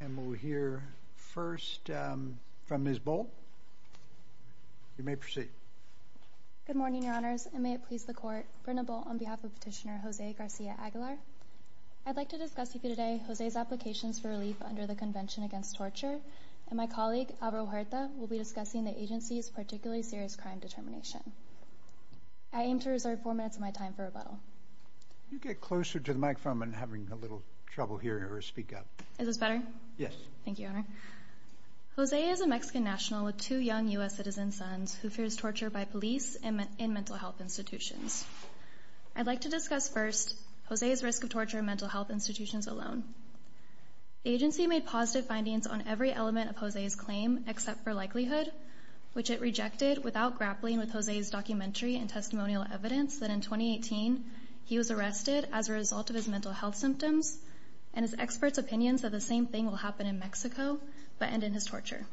And we'll hear first from Ms. Bolt. You may proceed. Good morning, Your Honors, and may it please the Court, Brenda Bolt on behalf of Petitioner Jose Garcia Aguilar. I'd like to discuss with you today Jose's applications for relief under the Convention Against Torture, and my colleague, Alvaro Huerta, will be discussing the agency's particularly serious crime determination. I aim to reserve four minutes of my time for rebuttal. You get closer to the better? Yes. Thank you, Your Honor. Jose is a Mexican national with two young U.S. citizen sons who fears torture by police and in mental health institutions. I'd like to discuss first Jose's risk of torture in mental health institutions alone. The agency made positive findings on every element of Jose's claim except for likelihood, which it rejected without grappling with Jose's documentary and testimonial evidence that in 2018 he was arrested as a result of his mental health symptoms and his experts' opinions that the same thing will happen in Mexico but end in his torture.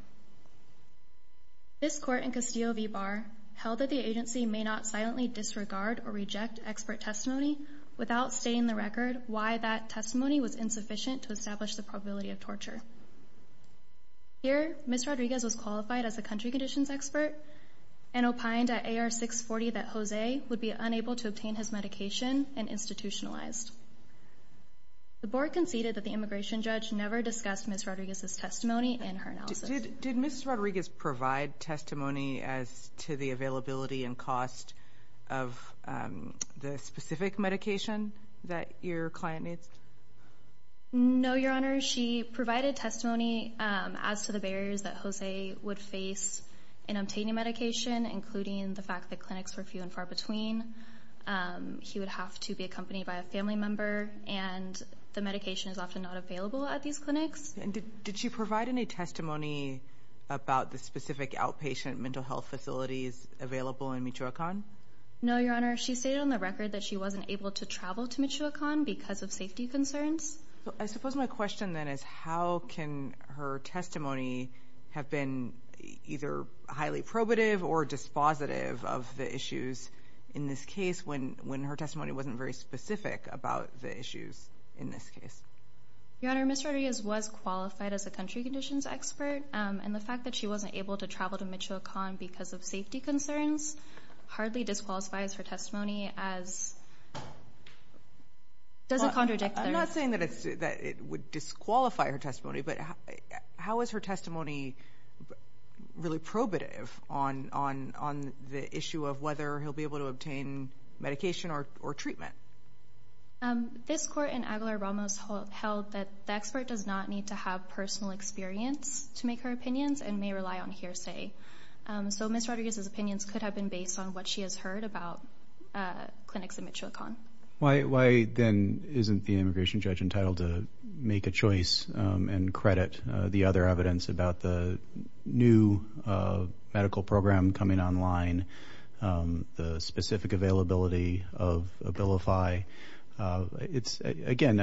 This court in Castillo v. Barr held that the agency may not silently disregard or reject expert testimony without stating the record why that testimony was insufficient to establish the probability of torture. Here, Ms. Rodriguez was qualified as a country conditions expert and opined at AR 640 that Jose would be unable to obtain his The board conceded that the immigration judge never discussed Ms. Rodriguez's testimony in her analysis. Did Ms. Rodriguez provide testimony as to the availability and cost of the specific medication that your client needs? No, Your Honor. She provided testimony as to the barriers that Jose would face in obtaining medication, including the fact that clinics were few and far between. He would have to be accompanied by a family member and the medication is often not available at these clinics. Did she provide any testimony about the specific outpatient mental health facilities available in Michoacán? No, Your Honor. She stated on the record that she wasn't able to travel to Michoacán because of safety concerns. I suppose my question then is how can her testimony have been either highly probative or dispositive of the issues in this case when when her testimony wasn't very specific about the issues in this case? Your Honor, Ms. Rodriguez was qualified as a country conditions expert and the fact that she wasn't able to travel to Michoacán because of safety concerns hardly disqualifies her testimony as...doesn't contradict...I'm not saying that it would disqualify her testimony, but how is her testimony really probative on the issue of whether he'll be able to obtain medication or treatment? This court in Aguilar-Ramos held that the expert does not need to have personal experience to make her opinions and may rely on hearsay. So Ms. Rodriguez's opinions could have been based on what she has heard about clinics in Michoacán. Why then isn't the immigration judge entitled to make a choice and credit the other evidence about the new medical program coming online, the specific availability of Abilify? It's, again,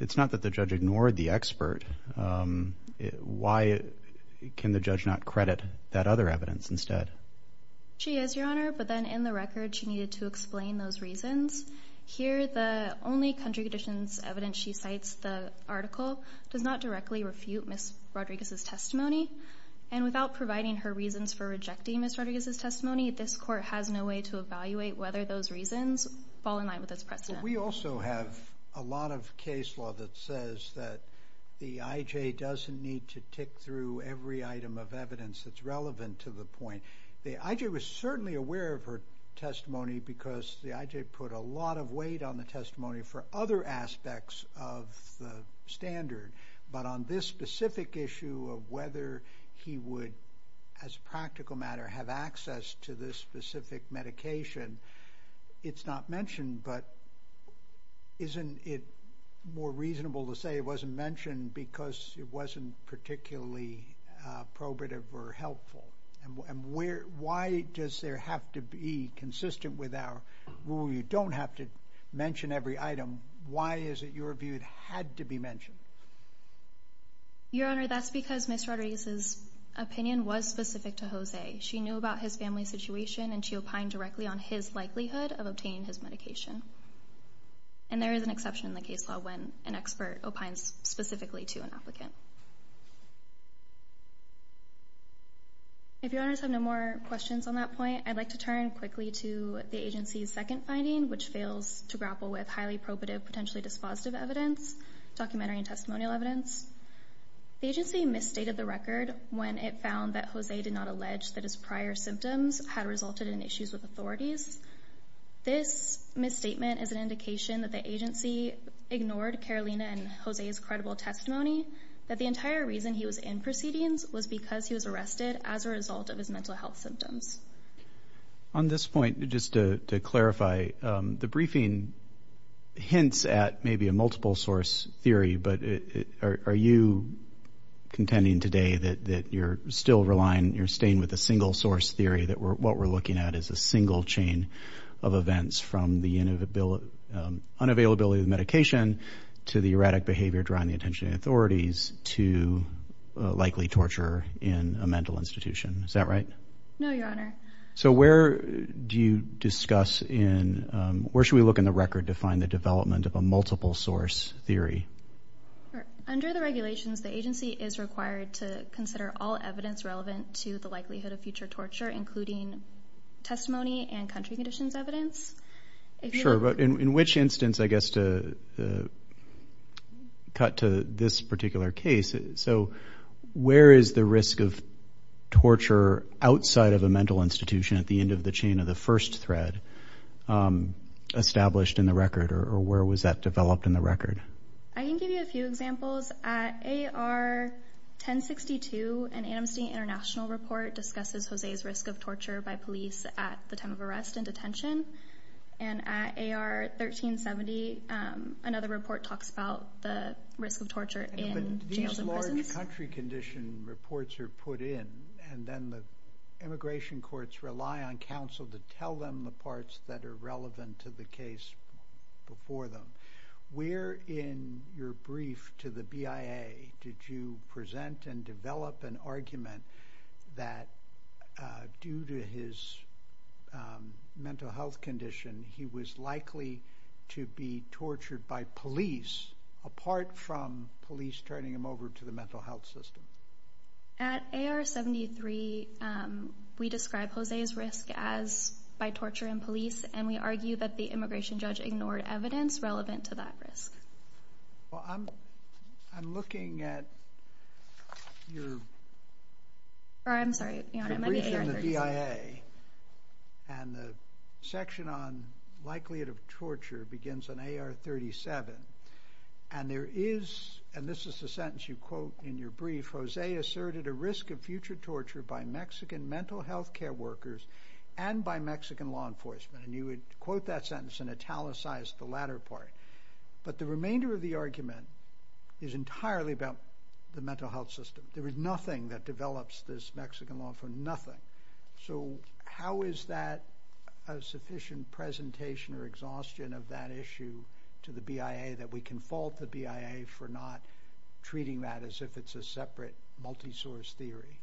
it's not that the judge ignored the expert. Why can the judge not credit that other evidence instead? She is, Your Honor, but then in the record she needed to explain those reasons. Here the only country conditions evidence she cites, the article, does not directly refute Ms. Rodriguez's testimony and without providing her reasons for rejecting Ms. Rodriguez's testimony, this court has no way to evaluate whether those reasons fall in line with its precedent. We also have a lot of case law that says that the IJ doesn't need to tick through every item of evidence that's relevant to the point. The IJ was certainly aware of her testimony because the IJ put a lot of weight on the testimony for other aspects of the standard, but on this specific issue of whether he would, as a practical matter, have access to this specific medication, it's not mentioned, but isn't it more reasonable to say it wasn't mentioned because it wasn't particularly probative or helpful? And why does there have to be, consistent with our rule, you don't have to mention every item. Why is it your view it had to be mentioned? Your Honor, that's because Ms. Rodriguez's opinion was specific to Jose. She knew about his family situation and she opined directly on his likelihood of obtaining his medication. And there is an exception in the case law when an expert opines specifically to an applicant. If your Honors have no more questions on that point, I'd like to turn quickly to the agency's second finding, which fails to grapple with highly probative, potentially dispositive evidence, documentary and testimonial evidence. The agency misstated the record when it found that Jose did not allege that his prior symptoms had resulted in issues with authorities. This misstatement is an indication that the agency ignored Carolina and Jose's credible testimony, that the entire reason he was in proceedings was because he was arrested as a result of his mental health symptoms. On this point, just to clarify, the briefing hints at maybe a multiple source theory, but are you contending today that you're still relying, you're staying with a single source theory, that what we're looking at is a single chain of events from the unavailability of medication to the erratic behavior drawing the attention of authorities to likely torture in a mental institution. Is that right? No, Your Honor. So where do you discuss in, where should we look in the record to find the development of a multiple source theory? Under the regulations, the agency is required to consider all evidence relevant to the country conditions evidence. Sure, but in which instance, I guess to cut to this particular case, so where is the risk of torture outside of a mental institution at the end of the chain of the first thread established in the record, or where was that developed in the record? I can give you a few examples. At AR 1062, an Amnesty International report discusses Jose's risk of torture by arrest and detention, and at AR 1370, another report talks about the risk of torture in jails and prisons. But these large country condition reports are put in, and then the immigration courts rely on counsel to tell them the parts that are relevant to the case before them. Where in your brief to the BIA did you present and develop an argument that due to his mental health condition, he was likely to be tortured by police, apart from police turning him over to the mental health system? At AR 73, we describe Jose's risk as by torture and police, and we argue that the immigration judge ignored evidence relevant to that risk. Well, I'm sorry. In the BIA, and the section on likelihood of torture begins on AR 37, and there is, and this is the sentence you quote in your brief, Jose asserted a risk of future torture by Mexican mental health care workers and by Mexican law enforcement, and you would quote that sentence and italicize the latter part. But the remainder of the argument is entirely about the mental health system. There is nothing that develops this Mexican law for nothing. So how is that a sufficient presentation or exhaustion of that issue to the BIA that we can fault the BIA for not treating that as if it's a separate, multisource theory?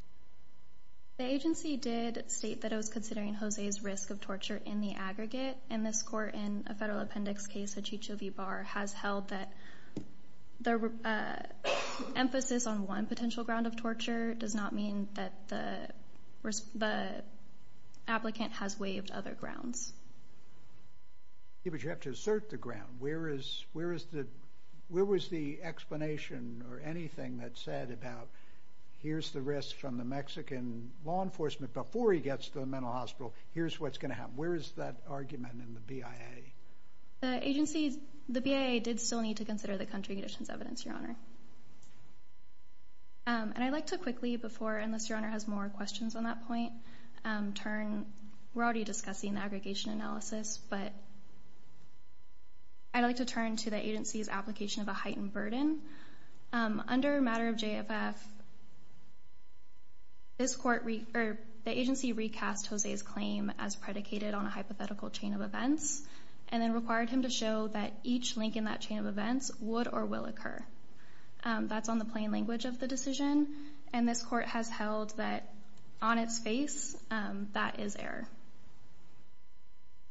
The agency did state that it was considering Jose's risk of torture in the aggregate, and this court in a federal appendix case, the Chicho V. Barr, has held that the emphasis on one potential ground of torture does not mean that the applicant has waived other grounds. Yeah, but you have to assert the ground. Where is, where is the, where was the explanation or anything that said about here's the risk from the Mexican law enforcement before he gets to the mental hospital, here's what's going to happen. Where is that argument in the BIA? The agency, the country conditions evidence, Your Honor. And I'd like to quickly before, unless Your Honor has more questions on that point, turn, we're already discussing aggregation analysis, but I'd like to turn to the agency's application of a heightened burden. Under matter of JFF, this court, the agency recast Jose's claim as predicated on a hypothetical chain of events, and then required him to show that each link in that chain of events would or will occur. That's on the plain language of the decision, and this court has held that on its face, that is error.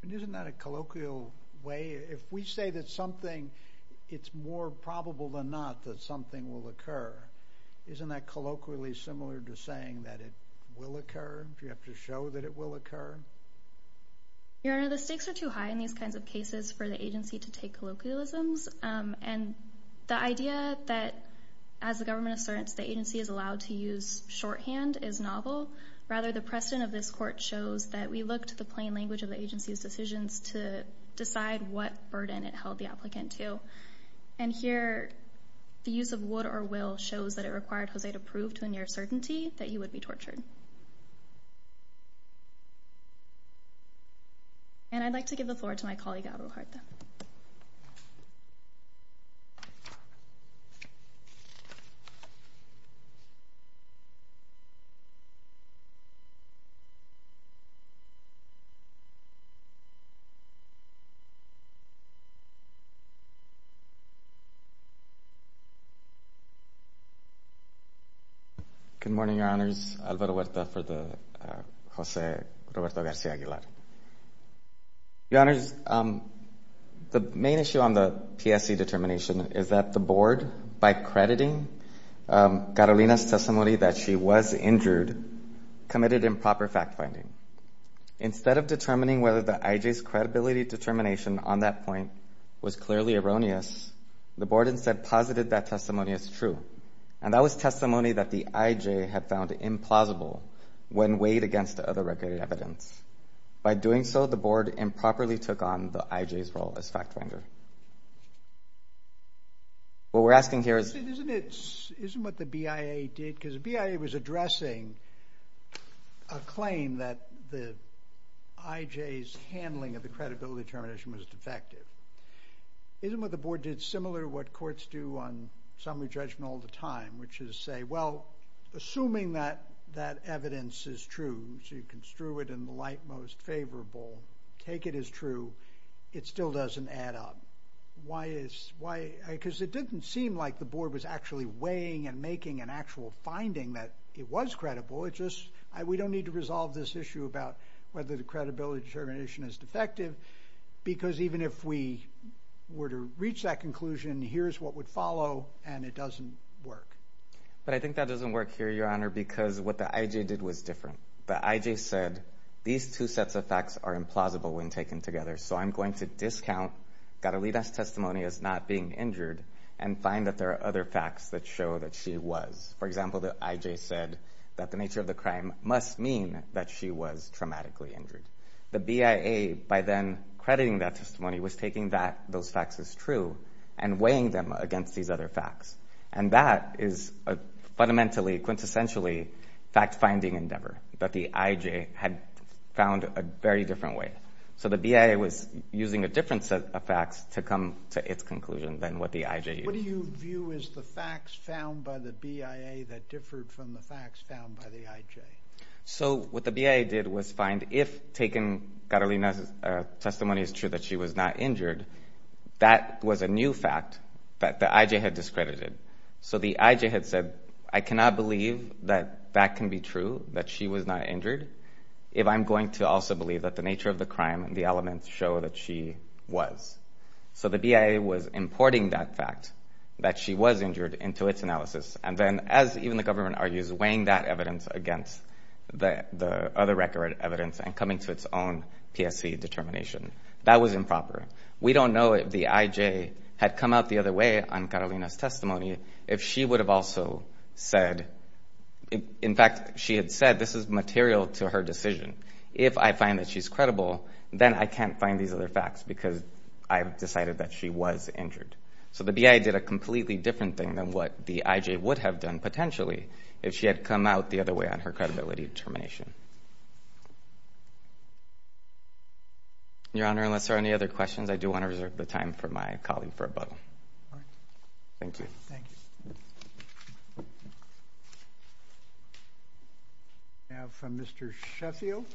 And isn't that a colloquial way? If we say that something, it's more probable than not that something will occur, isn't that colloquially similar to saying that it will occur, if you have to show that it will occur? Your Honor, the cases for the agency to take colloquialisms, and the idea that, as the government asserts, the agency is allowed to use shorthand is novel. Rather, the precedent of this court shows that we look to the plain language of the agency's decisions to decide what burden it held the applicant to. And here, the use of would or will shows that it required Jose to prove to a near certainty that he would be tortured. And I'd like to give the floor to my colleague, Abreu Harta. Good morning, Your Honors. Abreu Harta for the Jose Roberto Garcia Aguilar. Your Honors, the main issue on the PSC determination is that the board, by crediting Carolina's testimony that she was injured, committed improper fact finding. Instead of determining whether the IJ's credibility determination on that point was clearly erroneous, the board instead posited that testimony is testimony that the IJ had found implausible when weighed against other record evidence. By doing so, the board improperly took on the IJ's role as fact finder. What we're asking here is... Isn't it, isn't what the BIA did, because BIA was addressing a claim that the IJ's handling of the credibility determination was defective. Isn't what the board did similar to what courts do on summary judgment all the time, which is say, well, assuming that that evidence is true, so you construe it in the light most favorable, take it as true, it still doesn't add up. Why is, why, because it didn't seem like the board was actually weighing and making an actual finding that it was credible. It just, we don't need to resolve this issue about whether the credibility determination is defective, because even if we were to reach that conclusion, here's what would follow, and it doesn't work. But I think that doesn't work here, Your Honor, because what the IJ did was different. The IJ said, these two sets of facts are implausible when taken together, so I'm going to discount Gadolina's testimony as not being injured and find that there are other facts that show that she was. For example, the IJ said that the nature of the crime must mean that she was traumatically injured. The BIA, by then crediting that testimony, was taking that, those facts as true, and weighing them against these other facts, and that is a fundamentally, quintessentially, fact-finding endeavor that the IJ had found a very different way. So the BIA was using a different set of facts to come to its conclusion than what the IJ used. What do you view as the facts found by the BIA that differed from the facts found by the IJ? So what the BIA did was find, if taken, Gadolina's testimony is true that she was not injured, that was a new fact that the IJ had discredited. So the IJ had said, I cannot believe that that can be true, that she was not injured, if I'm going to also believe that the nature of the crime and the elements show that she was. So the BIA was importing that fact, that she was injured, into its analysis, and then, as even the government argues, weighing that evidence against the other record evidence, and coming to its own PSC determination. That was improper. We don't know if the IJ had come out the other way on Gadolina's testimony, if she would have also said, in fact, she had said, this is material to her decision. If I find that she's credible, then I can't find these other facts, because I've decided that she was injured. So the BIA did a completely different thing than what the IJ would have done, potentially, if she had come out the other way on her credibility determination. Your Honor, unless there are any other questions, I do want to reserve the time for my colleague for a bubble. Thank you. Thank you. Now, from Mr. Sheffield.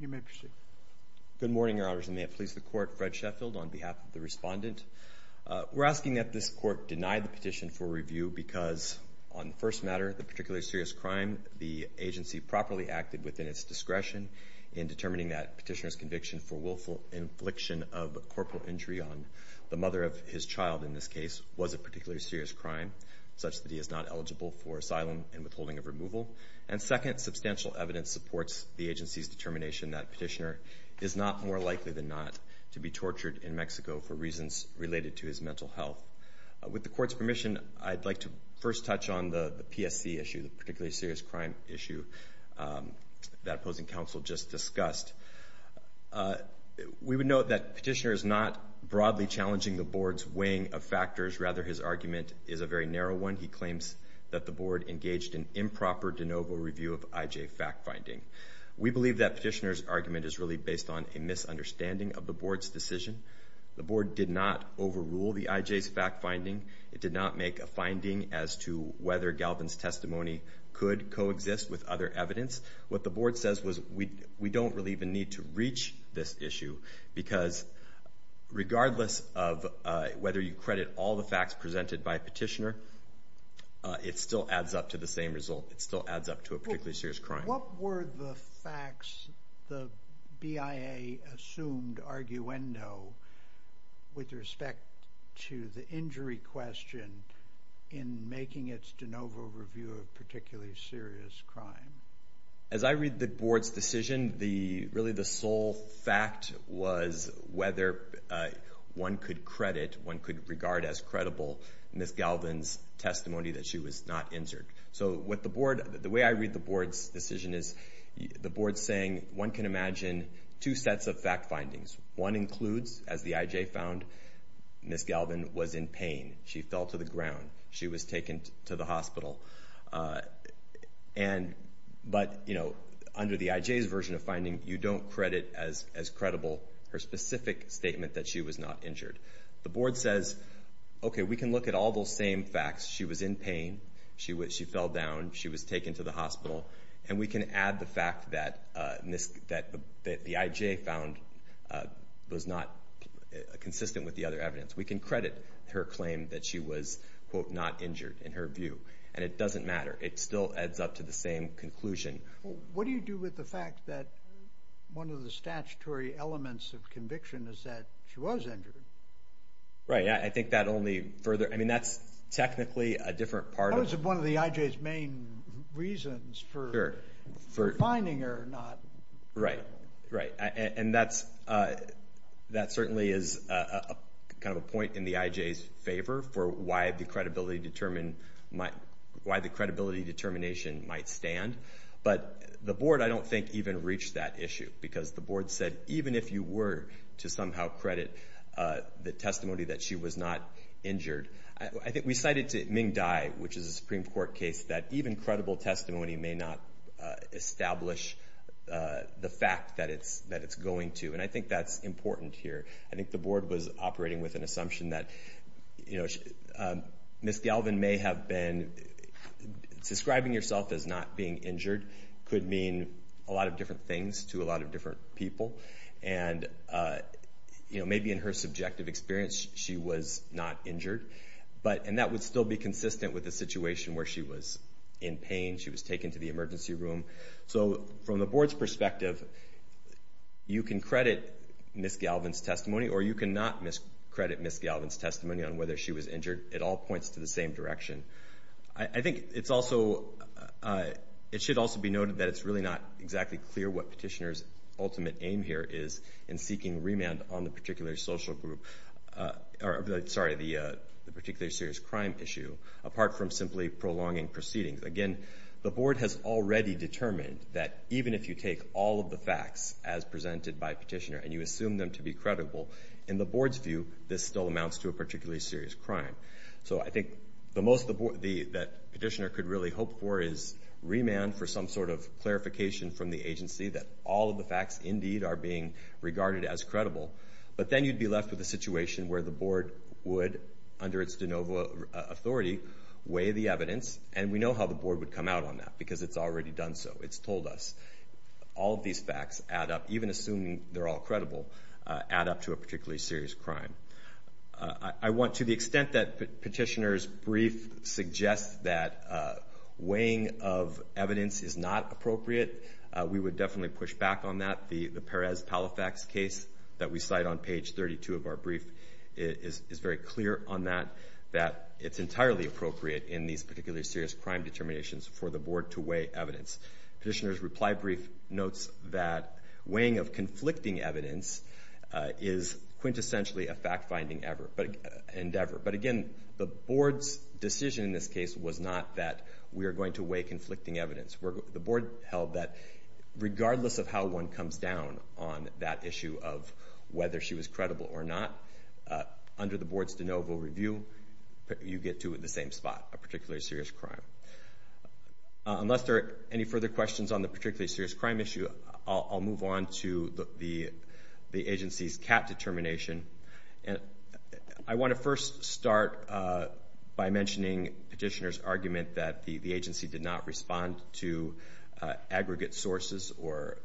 You may proceed. Good morning, Your Honors, and may it please the Court, Fred Sheffield, on behalf of the respondent. We're asking that this Court deny the petition for review because, on the first matter, the particularly serious crime, the agency properly acted within its discretion in determining that petitioner's conviction for willful infliction of corporal injury on the mother of his child, in this case, was a particularly serious crime, such that he is not eligible for asylum and withholding of removal. And second, substantial evidence supports the agency's determination that petitioner is not more likely than not to be tortured in Mexico for reasons related to his mental health. With the Court's permission, I'd like to first touch on the PSC issue, the particularly serious crime issue that opposing counsel just discussed. We would note that petitioner is not broadly challenging the Board's weighing of factors. Rather, his argument is a very narrow one. He claims that the Board engaged in improper de novo review of IJ fact-finding. We believe that petitioner's argument is really based on a misunderstanding of the Board's decision. The Board did not overrule the IJ's fact-finding. It did not make a claim that Petitioner Galvin's testimony could coexist with other evidence. What the Board says was we don't really even need to reach this issue, because regardless of whether you credit all the facts presented by petitioner, it still adds up to the same result. It still adds up to a particularly serious crime. What were the facts the BIA assumed arguendo with respect to the injury question in making its de novo review a particularly serious crime? As I read the Board's decision, really the sole fact was whether one could credit, one could regard as credible Ms. Galvin's testimony that she was not injured. So what the Board, the way I read the Board's decision is the Board's saying one can imagine two sets of fact findings. One includes, as the IJ found, Ms. Galvin was in pain. She fell to the ground. She was taken to the hospital. But under the IJ's version of finding, you don't credit as credible her specific statement that she was not injured. The Board says, okay, we can look at all those same facts. She was in pain. She fell down. She was taken to the hospital. And we can add the fact that the IJ found was not consistent with the other evidence. We can credit her claim that she was, quote, not injured in her view. And it doesn't matter. It still adds up to the same conclusion. What do you do with the fact that one of the statutory elements of conviction is that she was injured? Right. I think that only further, I mean, that's technically a different part. That was one of the IJ's main reasons for finding her, not... Right. Right. And that certainly is kind of a point in the IJ's favor for why the credibility determination might stand. But the Board, I don't think, even reached that issue. Because the Board said, even if you were to somehow credit the testimony that she was not injured, I think we cited to Dye, which is a Supreme Court case, that even credible testimony may not establish the fact that it's going to. And I think that's important here. I think the Board was operating with an assumption that, you know, Ms. Galvin may have been... Describing yourself as not being injured could mean a lot of different things to a lot of different people. And, you know, maybe in her subjective experience she was not injured. But... And that would still be consistent with the situation where she was in pain, she was taken to the emergency room. So from the Board's perspective, you can credit Ms. Galvin's testimony or you cannot credit Ms. Galvin's testimony on whether she was injured. It all points to the same direction. I think it's also... It should also be noted that it's really not exactly clear what Petitioner's ultimate aim here is in seeking remand on the particular social group... Or, sorry, the particularly serious crime issue, apart from simply prolonging proceedings. Again, the Board has already determined that even if you take all of the facts as presented by Petitioner and you assume them to be credible, in the Board's view, this still amounts to a particularly serious crime. So I think the most that Petitioner could really hope for is remand for some sort of clarification from the agency that all of the facts indeed are being regarded as credible. But then you'd be left with a situation where the Board would, under its de novo authority, weigh the evidence. And we know how the Board would come out on that because it's already done so. It's told us. All of these facts add up, even assuming they're all credible, add up to a particularly serious crime. I want... To the extent that Petitioner's brief suggests that weighing of evidence is not appropriate, we would definitely push back on that. The Perez-Palifax case that we cite on page 32 of our brief is very clear on that, that it's entirely appropriate in these particularly serious crime determinations for the Board to weigh evidence. Petitioner's reply brief notes that weighing of conflicting evidence is quintessentially a fact finding endeavor. But again, the Board's decision in this case was not that we are going to weigh conflicting evidence. The Board held that regardless of how one comes down on that issue of whether she was credible or not, under the Board's de novo review, you get to the same spot, a particularly serious crime. Unless there are any further questions on the particularly serious crime issue, I'll move on to the agency's CAT determination. And I wanna first start by mentioning Petitioner's argument that the agency did not respond to aggregate sources or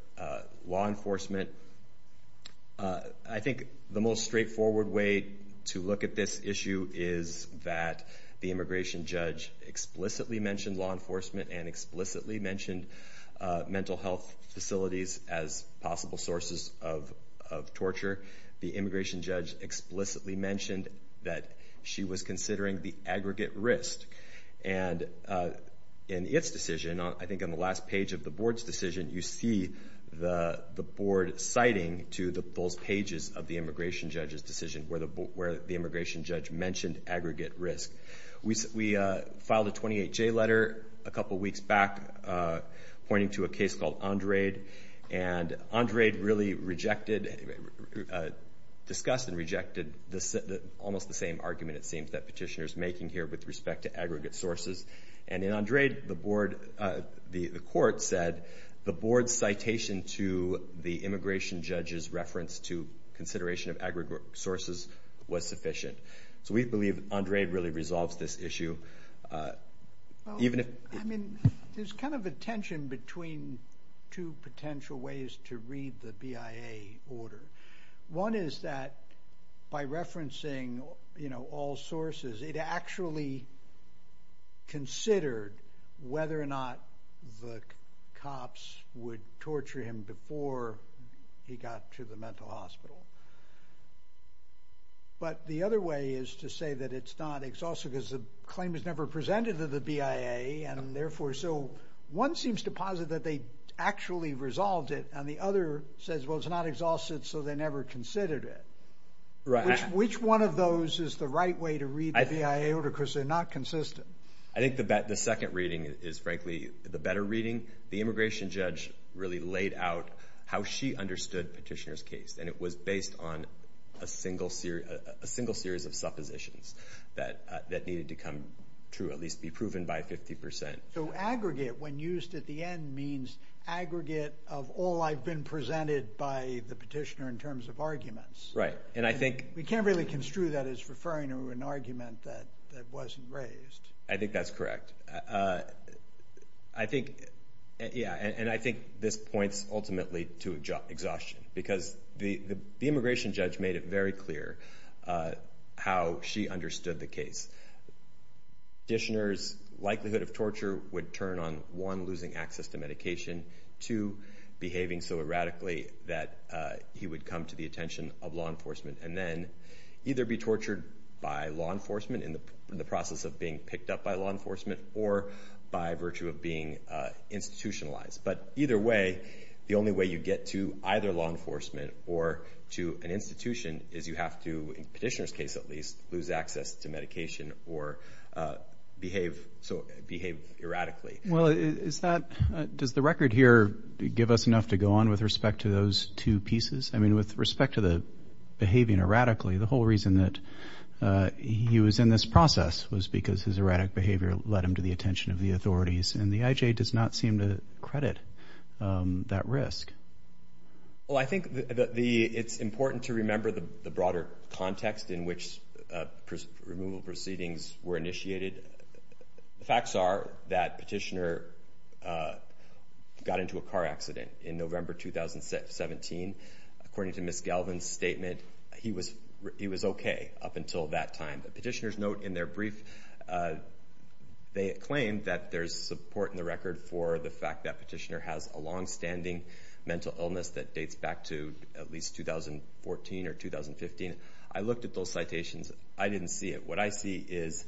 law enforcement. I think the most straightforward way to look at this issue is that the immigration judge explicitly mentioned law enforcement and explicitly mentioned mental health facilities as possible sources of torture. The immigration judge explicitly mentioned that she was considering the aggregate risk. And in its decision, I think on the last page of the Board's decision, you see the Board citing to those pages of the immigration judge's decision where the immigration judge mentioned aggregate risk. We filed a 28 J letter a couple of weeks back pointing to a case called Andrade. And Andrade really rejected... Discussed and rejected almost the same argument, it seems, that Petitioner's making here with respect to aggregate sources. And in Andrade, the court said, the Board's citation to the immigration judge's reference to consideration of aggregate sources was sufficient. So we believe Andrade really resolves this issue. Even if... I mean, there's kind of a tension between two potential ways to read the BIA order. One is that, by referencing all sources, it actually considered whether or not the cops would torture him before he got to the mental hospital. But the other way is to say that it's not exhaustive because the claim is never presented to the BIA, and therefore... So one seems to posit that they actually resolved it, and the other says, well, it's not exhaustive, so they never considered it. Which one of those is the right way to read the BIA order, because they're not consistent? I think the second reading is, frankly, the better reading. The immigration judge really laid out how she understood Petitioner's case, and it was based on a single series of suppositions that needed to come true, at least be it means aggregate of all I've been presented by the Petitioner in terms of arguments. Right. And I think... We can't really construe that as referring to an argument that wasn't raised. I think that's correct. I think... Yeah, and I think this points ultimately to exhaustion, because the immigration judge made it very clear how she understood the case. Petitioner's likelihood of torture would turn on one, losing access to medication, two, behaving so erratically that he would come to the attention of law enforcement, and then either be tortured by law enforcement in the process of being picked up by law enforcement, or by virtue of being institutionalized. But either way, the only way you get to either law enforcement or to an institution is you have to, in Petitioner's case at least, lose access to medication or behave erratically. Well, is that... Does the record here give us enough to go on with respect to those two pieces? I mean, with respect to the behaving erratically, the whole reason that he was in this process was because his erratic behavior led him to the attention of the authorities, and the IJ does not seem to credit that risk. Well, I think it's important to remember the broader context in which removal proceedings were initiated. The facts are that Petitioner got into a car accident in November 2017. According to Ms. Galvin's statement, he was okay up until that time. But Petitioner's note in their brief, they claim that there's support in the record for the fact that Petitioner has a long standing mental illness that dates back to at least 2014 or 2015. I looked at those citations, I didn't see it. What I see is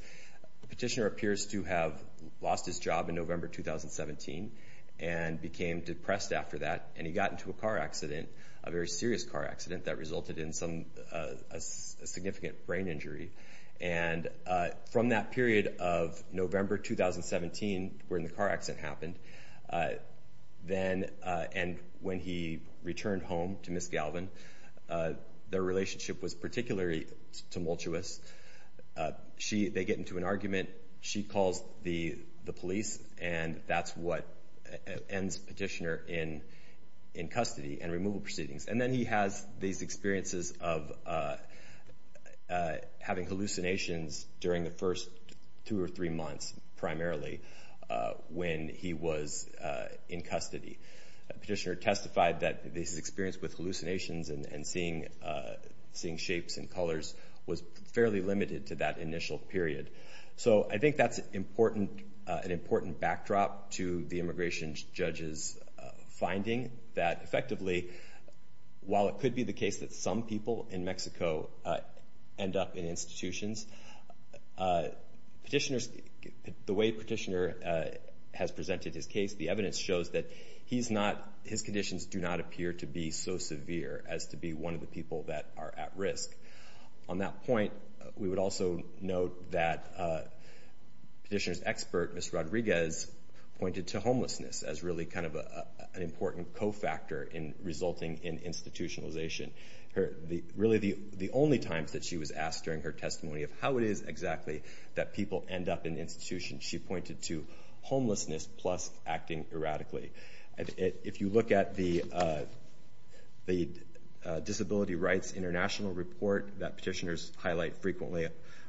Petitioner appears to have lost his job in November 2017, and became depressed after that, and he got into a car accident, a very serious car accident that resulted in a significant brain injury. And from that period of November 2017, when the car accident happened, and when he returned home to Ms. Galvin, their relationship was particularly tumultuous. They get into an argument, she calls the police, and that's what ends Petitioner in custody and removal proceedings. And then he has these experiences of having hallucinations during the first two or three months, primarily, when he was in custody. Petitioner testified that this experience with seeing shapes and colors was fairly limited to that initial period. So I think that's an important backdrop to the immigration judge's finding that effectively, while it could be the case that some people in Mexico end up in institutions, the way Petitioner has presented his case, the evidence shows that his conditions do not appear to be so severe as to be one of the people that are at risk. On that point, we would also note that Petitioner's expert, Ms. Rodriguez, pointed to homelessness as really an important cofactor in resulting in institutionalization. Really, the only times that she was asked during her testimony of how it is exactly that people end up in institutions, she pointed to homelessness plus acting erratically. If you look at the Disability Rights International report that Petitioner's highlight frequently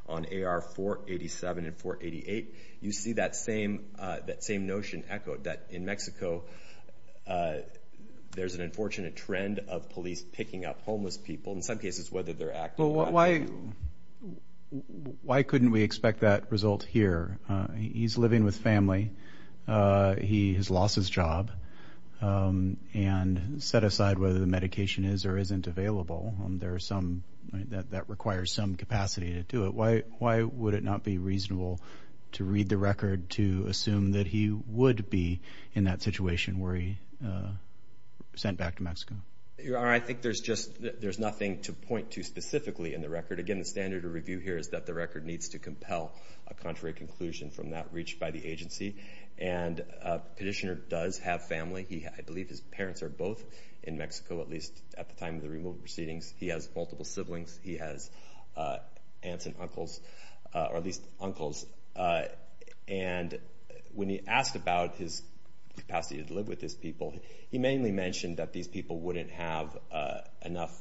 on AR 487 and 488, you see that same notion echoed, that in Mexico, there's an unfortunate trend of police picking up homeless people, in some cases, whether they're acting erratically. Well, why couldn't we expect that result here? He's living with family, he has lost his job, and set aside whether the medication is or isn't available. That requires some capacity to do it. Why would it not be reasonable to read the record to assume that he would be in that situation where he sent back to Mexico? I think there's nothing to point to specifically in the record. Again, the standard of review here is that the record needs to compel a contrary conclusion from that reached by the agency. Petitioner does have family. I believe his parents are both in Mexico, at least at the time of the removal proceedings. He has multiple siblings, he has aunts and uncles, or at least uncles. And when he asked about his capacity to live with his people, he mainly mentioned that these people wouldn't have enough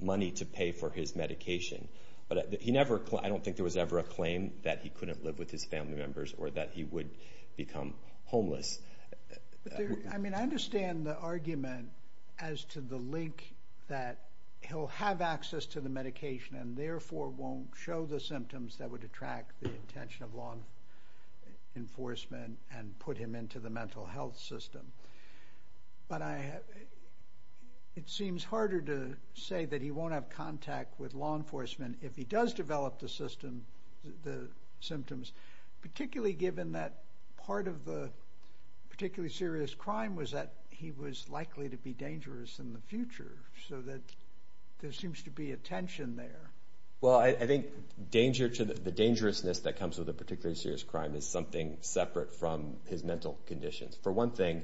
money to pay for his medication. But he never... I don't think there was ever a claim that he couldn't live with his family members or that he would become homeless. I mean, I understand the argument as to the link that he'll have access to the medication and therefore won't show the symptoms that would attract the attention of law enforcement and put him into the mental health system. But it seems harder to say that he won't have contact with law enforcement if he does develop the symptoms, particularly given that part of the particularly serious crime was that he was likely to be dangerous in the future, so that there seems to be a tension there. Well, I think the dangerousness that comes with a particularly serious crime is something separate from his mental conditions. For one thing,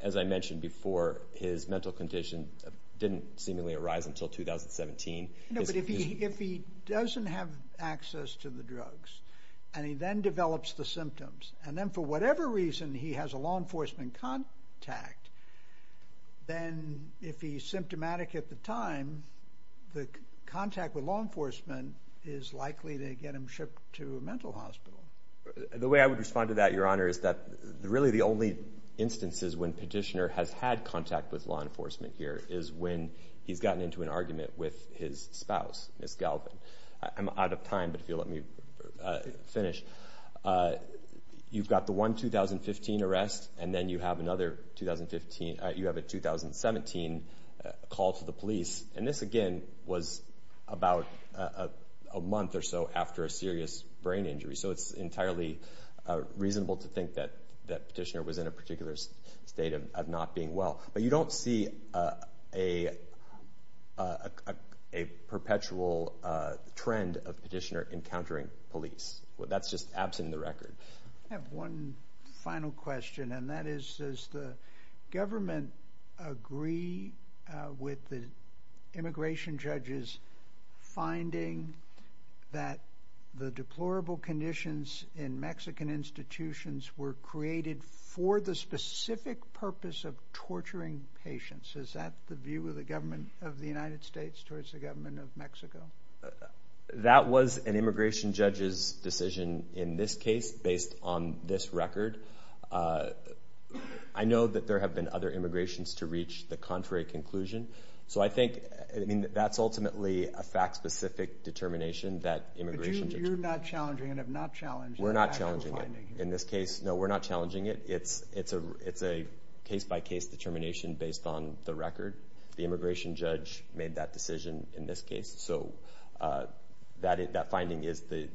as I mentioned before, his mental condition didn't seemingly arise until 2017. No, but if he doesn't have access to the drugs and he then develops the symptoms, and then for whatever reason he has a law enforcement contact, then if he's symptomatic at the time, the contact with law enforcement is likely to get him shipped to a mental hospital. The way I would respond to that, Your Honor, is that really the only instances when Petitioner has had contact with law enforcement is when he's in an argument with his spouse, Ms. Galvin. I'm out of time, but if you'll let me finish. You've got the one 2015 arrest, and then you have another 2015... You have a 2017 call to the police, and this, again, was about a month or so after a serious brain injury. So it's entirely reasonable to think that Petitioner was in a particular state of not being well. But you don't see a perpetual trend of Petitioner encountering police. That's just absent in the record. I have one final question, and that is, does the government agree with the immigration judges finding that the deplorable conditions in Mexican institutions were created for the specific purpose of torturing patients? Is that the view of the government of the United States towards the government of Mexico? That was an immigration judge's decision in this case, based on this record. I know that there have been other immigrations to reach the contrary conclusion. So I think that's ultimately a fact specific determination that immigration judges... But you're not challenging and have not challenged the actual finding. We're not challenging it in this case. No, we're not challenging it. It's a case by case determination based on the record. The immigration judge made that decision in this case. So that finding is the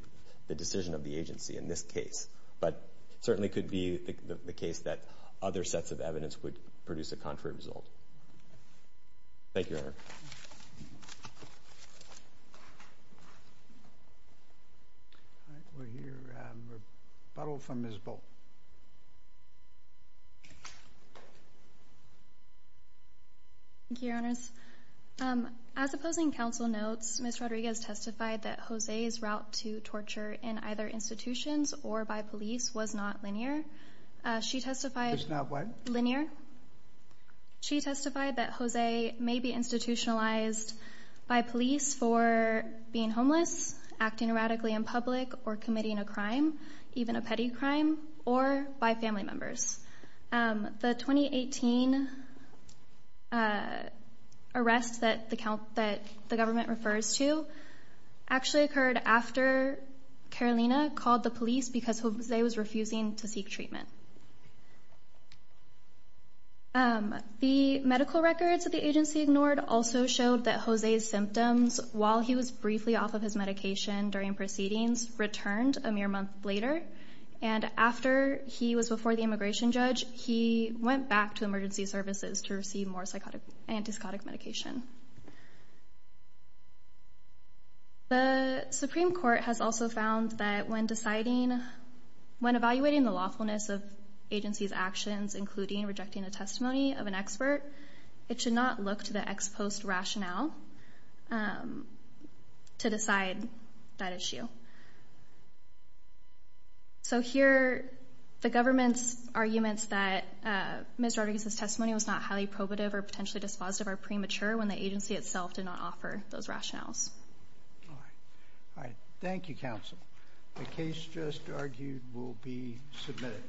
decision of the agency in this case, but certainly could be the case that other sets of evidence would produce a contrary result. Thank you, Your Honor. We'll hear a rebuttal from Ms. Bolt. Thank you, Your Honors. As opposing counsel notes, Ms. Rodriguez testified that Jose's route to torture in either institutions or by police was not linear. She testified... Was not what? Linear. She testified that Jose may be institutionalized by police for being homeless, acting radically in public, or committing a crime, even a petty crime, or by family members. The 2018 arrest that the government refers to actually occurred after Carolina called the police because Jose was refusing to seek treatment. The medical records that the agency ignored also showed that Jose's symptoms while he was briefly off of his medication during proceedings returned a mere month later, and after he was before the immigration judge, he went back to emergency services to receive more psychotic... Antipsychotic medication. The Supreme Court has also found that when deciding... When evaluating the lawfulness of agency's actions, including rejecting the testimony of an expert, it should not look to the ex post rationale. To decide that issue. So here, the government's arguments that Ms. Rodriguez's testimony was not highly probative or potentially dispositive are premature when the agency itself did not offer those rationales. All right. Thank you, counsel. The case just argued will be submitted.